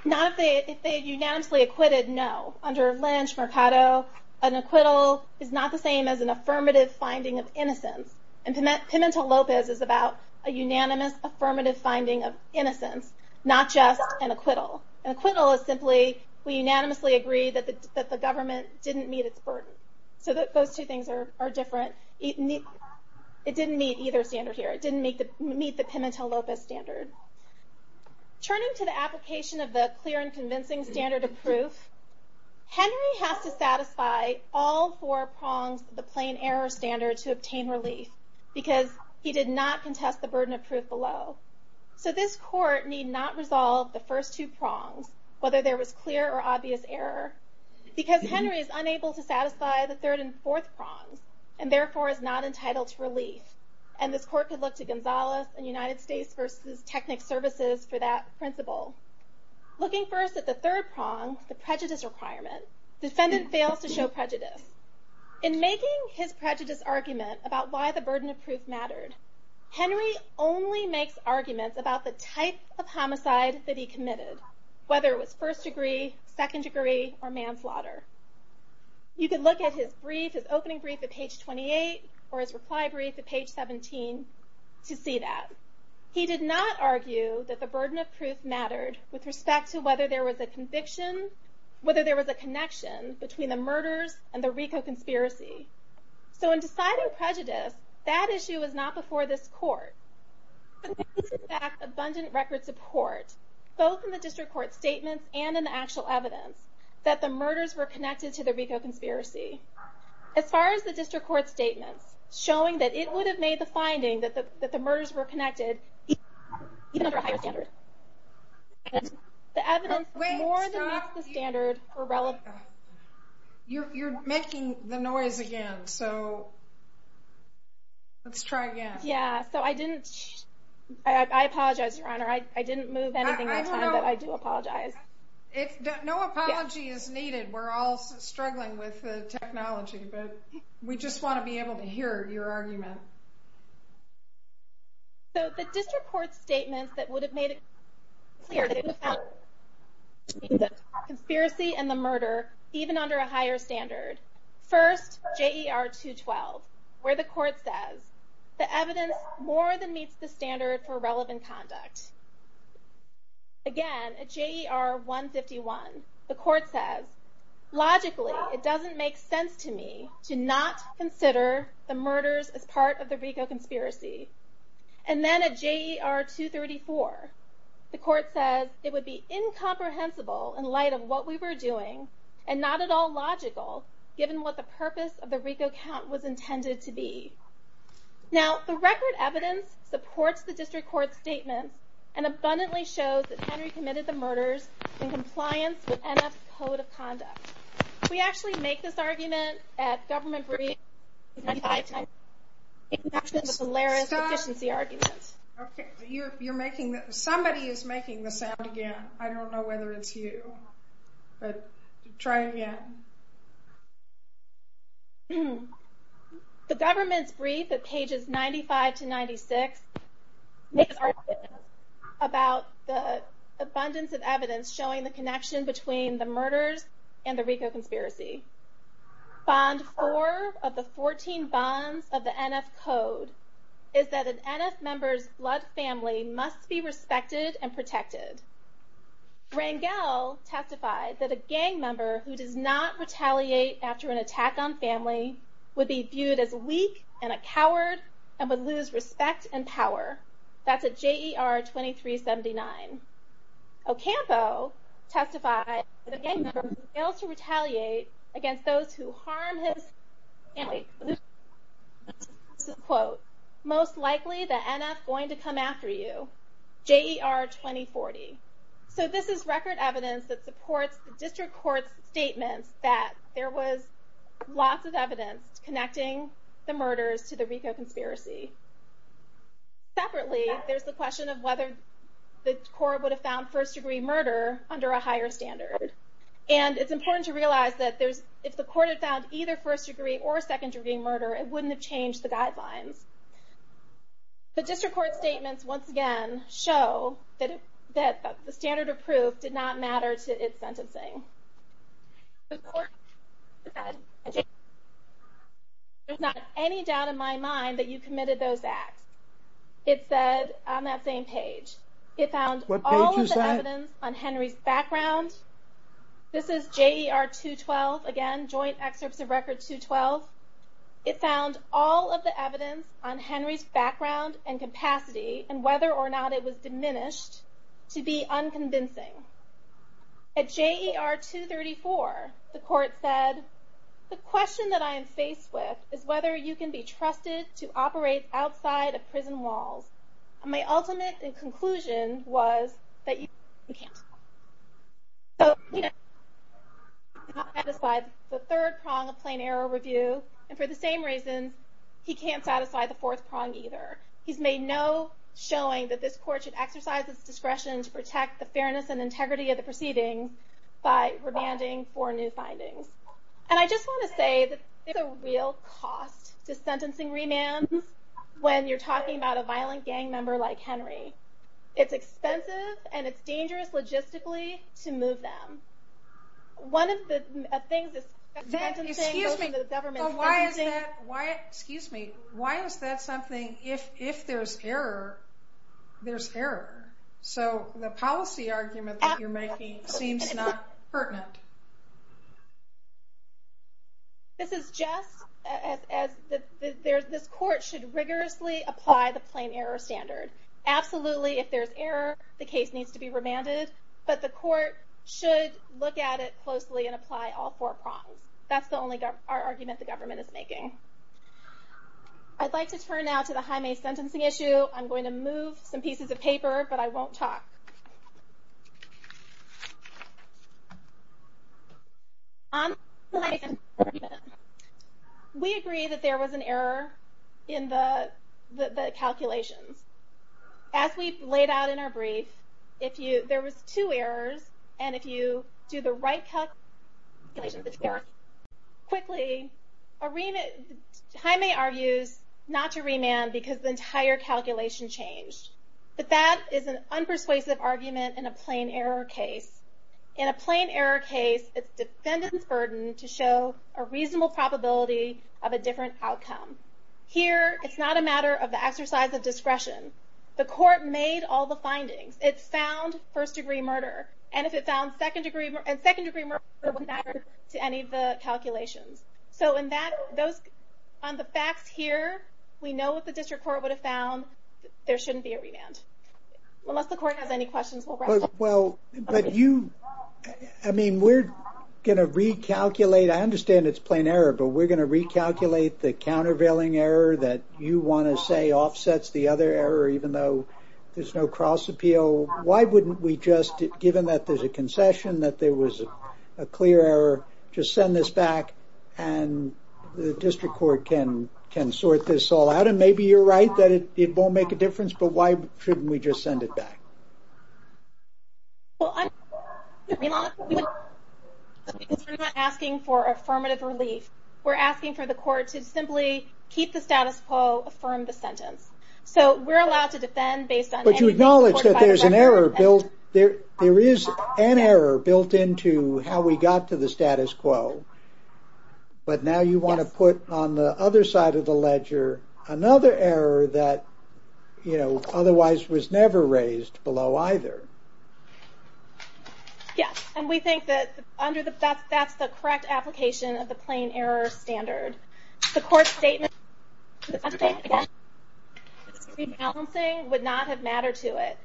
Not if they unanimously acquitted, no. Under Lynch, Mercado, an acquittal is not the same as an affirmative finding of innocence. Pimentel-Lopez is about a unanimous affirmative finding of innocence, not just an acquittal. An acquittal is simply, we unanimously agree that the government didn't meet its burden. Those two things are different. It didn't meet either standard here. It didn't meet the Pimentel-Lopez standard. Turning to the application of the clear and convincing standard of proof, Henry has to satisfy all four prongs of the plain error standard to obtain relief, because he did not contest the burden of proof below. So this court need not resolve the first two prongs, whether there was clear or obvious error, because Henry is unable to satisfy the third and fourth prongs, and therefore is not entitled to relief. And this court could look to Gonzalez and United States versus Technic Services for that principle. Looking first at the third prong, the prejudice requirement, defendant fails to show prejudice. In making his prejudice argument about why the burden of proof mattered, Henry only makes arguments about the type of homicide that he committed, whether it was first degree, second degree, or manslaughter. You could look at his brief, his opening brief at page 28, or his reply brief at page 17, to see that. He did not argue that the burden of proof mattered with respect to whether there was a connection between the murders and the RICO conspiracy. So in deciding prejudice, that issue was not before this court. But there was in fact abundant record support, both in the district court statements and in the actual evidence, that the murders were connected to the RICO conspiracy. As far as the district court statements, showing that it would have made the finding that the murders were connected, even under a higher standard. The evidence more than meets the standard for relevance. You're making the noise again, so let's try again. Yeah, so I didn't, I apologize, Your Honor. I didn't move anything at the time, but I do apologize. If no apology is needed, we're all struggling with the technology, but we just want to be able to hear your argument. So the district court statements that would have made it clear that it was connected to the conspiracy and the murder, even under a higher standard. First, J.E.R. 212, where the court says, the evidence more than meets the standard for relevant conduct. Again, at J.E.R. 151, the court says, logically, it doesn't make sense to me to not consider the murders as part of the RICO conspiracy. And then at J.E.R. 234, the court says, it would be incomprehensible in light of what we were doing, and not at all logical, given what the purpose of the RICO count was intended to be. Now, the record evidence supports the district court statements, and abundantly shows that Henry committed the murders in compliance with NF's Code of Conduct. We actually make this argument at government briefs, at 95 to 96. It matches the Polaris deficiency argument. You're making, somebody is making the sound again. I don't know whether it's you, but try again. The government's brief at pages 95 to 96 makes argument about the abundance of evidence showing the connection between the murders and the RICO conspiracy. Bond 4 of the 14 bonds of the NF Code is that an NF member's blood family must be respected and protected. Rangel testified that a gang member who does not retaliate after an attack on family would be viewed as weak and a coward, and would lose respect and power. That's at J.E.R. 2379. Ocampo testified that a gang member fails to retaliate against those who harm his family. This is a quote. Most likely the NF going to come after you. J.E.R. 2040. So this is record evidence that supports the district court's statements that there was lots of evidence connecting the murders to the RICO conspiracy. Separately, there's the question of whether the court would have found first degree murder under a higher standard. And it's important to realize that if the court had found either first degree or second degree murder, it wouldn't have changed the guidelines. The district court's statements, once again, show that the standard of proof did not matter to its sentencing. The court said, there's not any doubt in my mind that you committed those acts. It said on that same page. It found all of the evidence on Henry's background. This is J.E.R. 212, again, Joint Excerpts of Record 212. It found all of the evidence on Henry's background and capacity, and whether or not it was diminished, to be unconvincing. At J.E.R. 234, the court said, the question that I am faced with is whether you can be trusted to operate outside of prison walls. And my ultimate conclusion was that you can't. So he did not satisfy the third prong of plain error review. And for the same reason, he can't satisfy the fourth prong either. He's made no showing that this court should exercise its discretion to protect the fairness and integrity of the proceeding by remanding for new findings. And I just want to say that there's a real cost to sentencing remands when you're talking about a violent gang member like Henry. It's expensive, and it's dangerous logistically to move them. One of the things that sentencing goes into the government... Excuse me. Why is that something, if there's error, there's error? So the policy argument that you're making seems not pertinent. This is Jess. This court should rigorously apply the plain error standard. Absolutely, if there's error, the case needs to be remanded. But the court should look at it closely and apply all four prongs. That's the only argument the government is making. I'd like to turn now to the Jaime sentencing issue. I'm going to move some pieces of paper, but I won't talk. We agree that there was an error in the calculations. As we've laid out in our brief, there was two errors, and if you do the right calculations, it's correct. Quickly, Jaime argues not to remand because the entire calculation changed. But that is an unpersuasive argument in a plain error case. In a plain error case, it's the defendant's burden to show a reasonable probability of a different outcome. Here, it's not a matter of the exercise of discretion. The court made all the findings. It found first degree murder. And if it found second degree murder, it wouldn't matter to any of the calculations. So on the facts here, we know what the district court would have found. There shouldn't be a remand. Unless the court has any questions, we'll wrap up. Well, but you... I mean, we're going to recalculate. I understand it's plain error, but we're going to recalculate the countervailing error that you want to say offsets the other error, even though there's no cross appeal. Why wouldn't we just, given that there's a concession, that there was a clear error, just send this back, and the district court can sort this all out? And maybe you're right that it won't make a difference, but why shouldn't we just send it back? Well, I'm... We're not asking for affirmative relief. We're asking for the court to simply keep the status quo, affirm the sentence. So we're allowed to defend based on... But you acknowledge that there's an error built... There is an error built into how we got to the status quo, but now you want to put on the other side of the ledger another error that, you know, otherwise was never raised below either. Yes, and we think that under the... That's the correct application of the plain error standard. The court's statement... Rebalancing would not have mattered to it.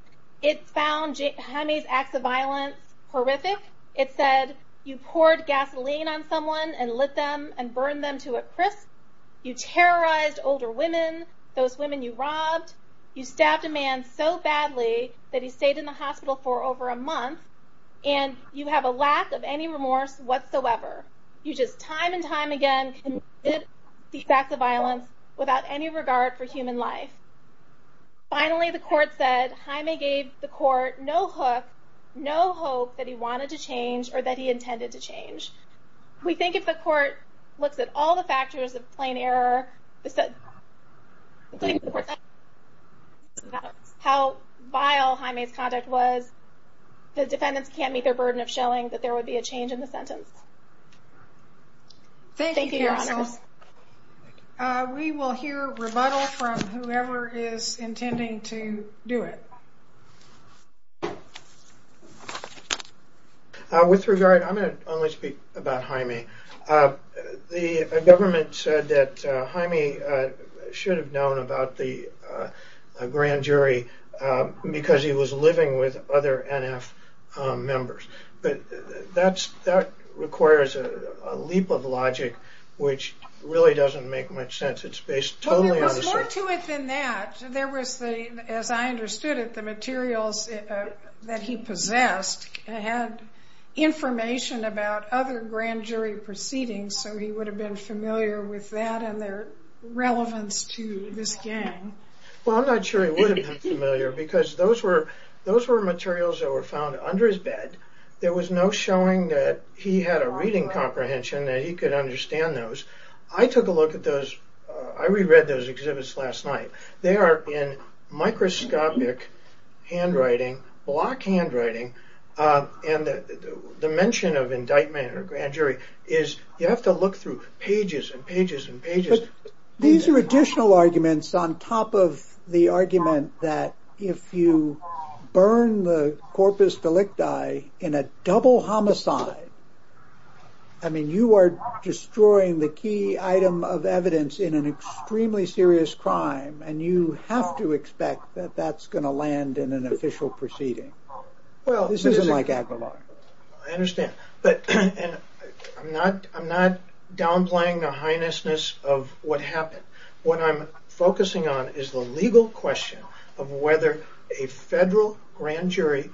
It found Jaime's acts of violence horrific. It said you poured gasoline on someone and lit them and burned them to a crisp. You terrorized older women, those women you robbed. You stabbed a man so badly that he stayed in the hospital for over a month, and you have a lack of any remorse whatsoever. You just time and time again committed these acts of violence without any regard for human life. Finally, the court said Jaime gave the court no hook, no hope that he wanted to change or that he intended to change. We think if the court looks at all the factors of plain error... How vile Jaime's conduct was, the defendants can't meet their burden of showing that there would be a change in the sentence. Thank you, Your Honors. We will hear rebuttal from whoever is intending to do it. With regard, I'm going to only speak about Jaime. The government said that Jaime should have known about the grand jury because he was living with other NF members. That requires a leap of logic which really doesn't make much sense. It's based totally on the circumstances. There was more to it than that. As I understood it, the materials that he possessed had information about other grand jury proceedings, so he would have been familiar with that and their relevance to this gang. I'm not sure he would have been familiar because those were materials that were found under his bed. There was no showing that he had a reading comprehension that he could understand those. I took a look at those. I reread those exhibits last night. They are in microscopic handwriting, block handwriting, and the mention of indictment or grand jury is you have to look through pages and pages and pages. These are additional arguments on top of the argument that if you burn the corpus delicti in a double homicide, you are destroying the key item of evidence in an extremely serious crime, and you have to expect that that's going to land in an official proceeding. This isn't like Aguilar. I understand. I'm not downplaying the heinousness of what happened. What I'm focusing on is the legal question of whether a federal grand jury,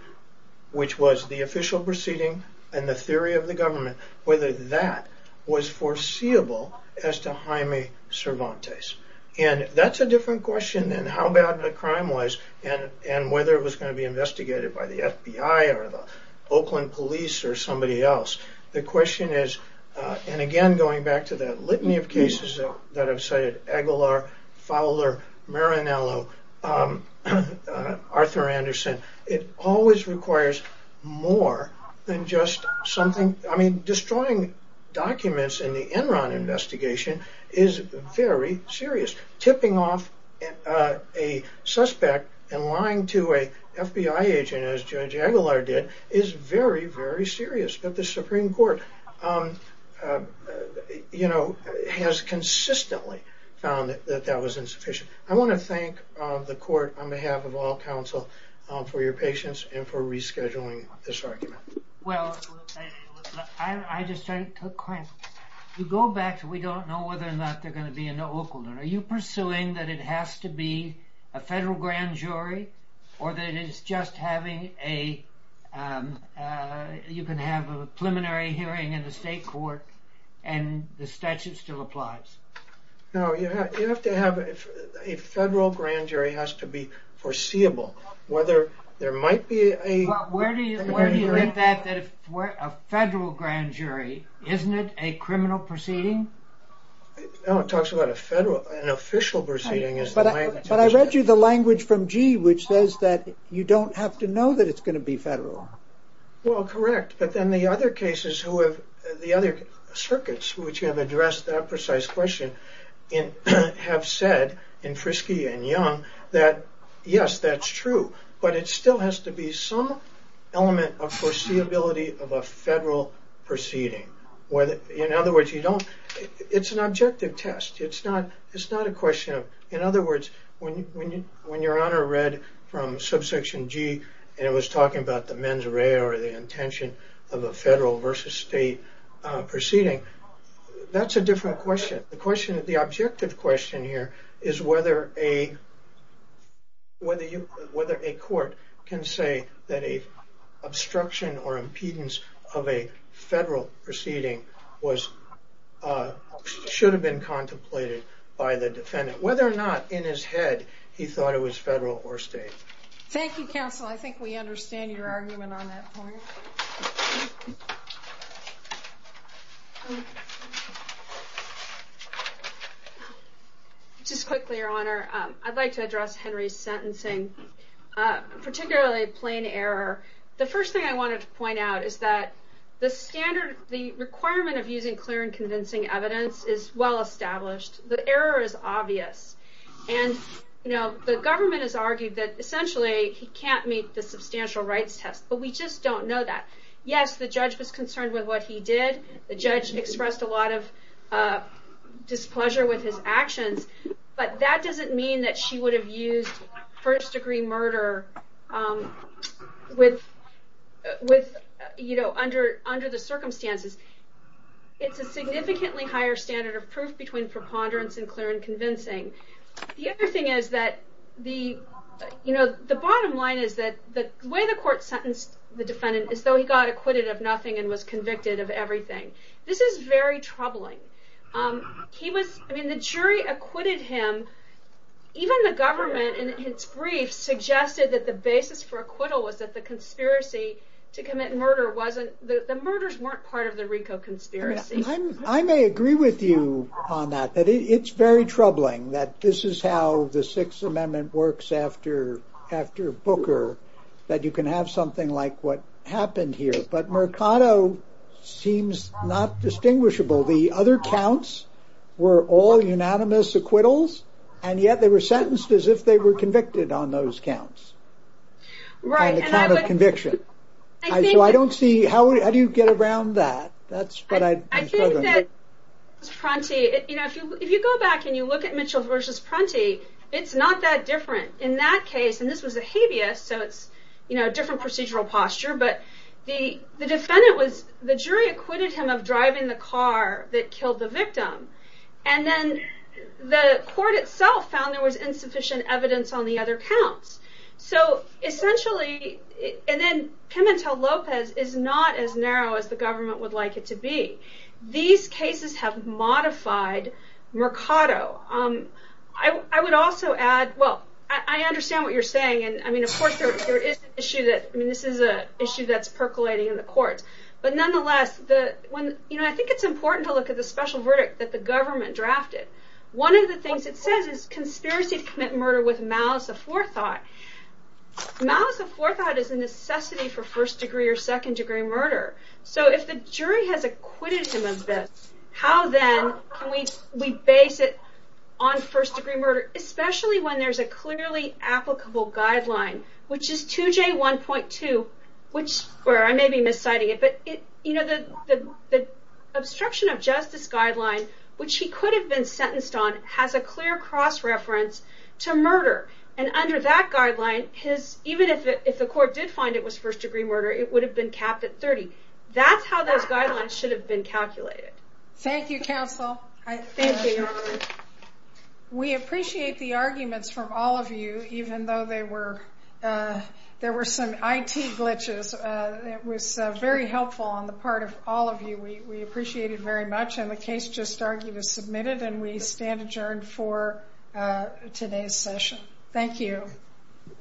which was the official proceeding and the theory of the government, whether that was foreseeable as to Jaime Cervantes. That's a different question than how bad the crime was and whether it was going to be investigated by the FBI or the Oakland police or somebody else. The question is, and again going back to that litany of cases that I've cited, Aguilar, Fowler, Maranello, Arthur Anderson, it always requires more than just something. I mean, destroying documents in the Enron investigation is very serious. Tipping off a suspect and lying to a FBI agent, as Judge Aguilar did, is very, very serious, but the Supreme Court has consistently found that that was insufficient. I want to thank the Court, on behalf of all counsel, for your patience and for rescheduling this argument. Well, I just want to clarify. You go back to we don't know whether or not they're going to be in Oakland. Are you pursuing that it has to be a federal grand jury or that you can have a preliminary hearing in the state court and the statute still applies? No, a federal grand jury has to be foreseeable. Where do you get that? A federal grand jury, isn't it a criminal proceeding? No, it talks about an official proceeding. But I read you the language from Gee, which says that you don't have to know that it's going to be federal. Well, correct, but then the other cases, the other circuits, which have addressed that precise question, have said, in Frisky and Young, that yes, that's true, but it still has to be some element of foreseeability of a federal proceeding. In other words, it's an objective test. It's not a question of, in other words, when your Honor read from Subsection G and it was talking about the mens rea or the intention of a federal versus state proceeding, that's a different question. The objective question here is whether a court can say that an obstruction or impedance of a federal proceeding should have been contemplated by the defendant. Whether or not, in his head, he thought it was federal or state. Thank you, Counsel. I think we understand your argument on that point. Just quickly, Your Honor, I'd like to address Henry's sentencing, particularly plain error. The first thing I wanted to point out is that the requirement of using clear and convincing evidence is well established. The error is obvious. The government has argued that, essentially, he can't meet the substantial rights test, but we just don't know that. Yes, the judge was concerned with what he did. The judge expressed a lot of displeasure with his actions, but that doesn't mean that she would have used first-degree murder under the circumstances. It's a significantly higher standard of proof between preponderance and clear and convincing. The other thing is that the bottom line is that the way the court sentenced the defendant is that he got acquitted of nothing and was convicted of everything. This is very troubling. The jury acquitted him. Even the government, in its brief, suggested that the basis for acquittal was that the conspiracy to commit murder wasn't... The murders weren't part of the RICO conspiracy. I may agree with you on that, that it's very troubling that this is how the Sixth Amendment works after Booker, that you can have something like what happened here, but Mercado seems not distinguishable. The other counts were all unanimous acquittals, and yet they were sentenced as if they were convicted on those counts, on the count of conviction. How do you get around that? If you go back and you look at Mitchell v. Prunty, it's not that different. In that case, and this was a habeas, so it's a different procedural posture, but the jury acquitted him of driving the car that killed the victim, and then the court itself found there was insufficient evidence on the other counts. So essentially... And then Pimentel-Lopez is not as narrow as the government would like it to be. These cases have modified Mercado. I would also add... Well, I understand what you're saying, and I mean, of course, there is an issue that... I mean, this is an issue that's percolating in the courts, but nonetheless, I think it's important to look at the special verdict that the government drafted. One of the things it says is, conspiracy to commit murder with malice of forethought. Malice of forethought is a necessity for first-degree or second-degree murder. So if the jury has acquitted him of this, how then can we base it on first-degree murder, especially when there's a clearly applicable guideline, which is 2J1.2, where I may be mis-citing it, but the obstruction of justice guideline, which he could have been sentenced on, has a clear cross-reference to murder. And under that guideline, even if the court did find it was first-degree murder, it would have been capped at 30. That's how those guidelines should have been calculated. Thank you, counsel. Thank you, Your Honor. We appreciate the arguments from all of you, even though there were some IT glitches. It was very helpful on the part of all of you. We appreciate it very much, and the case just argued is submitted, and we stand adjourned for today's session. Thank you.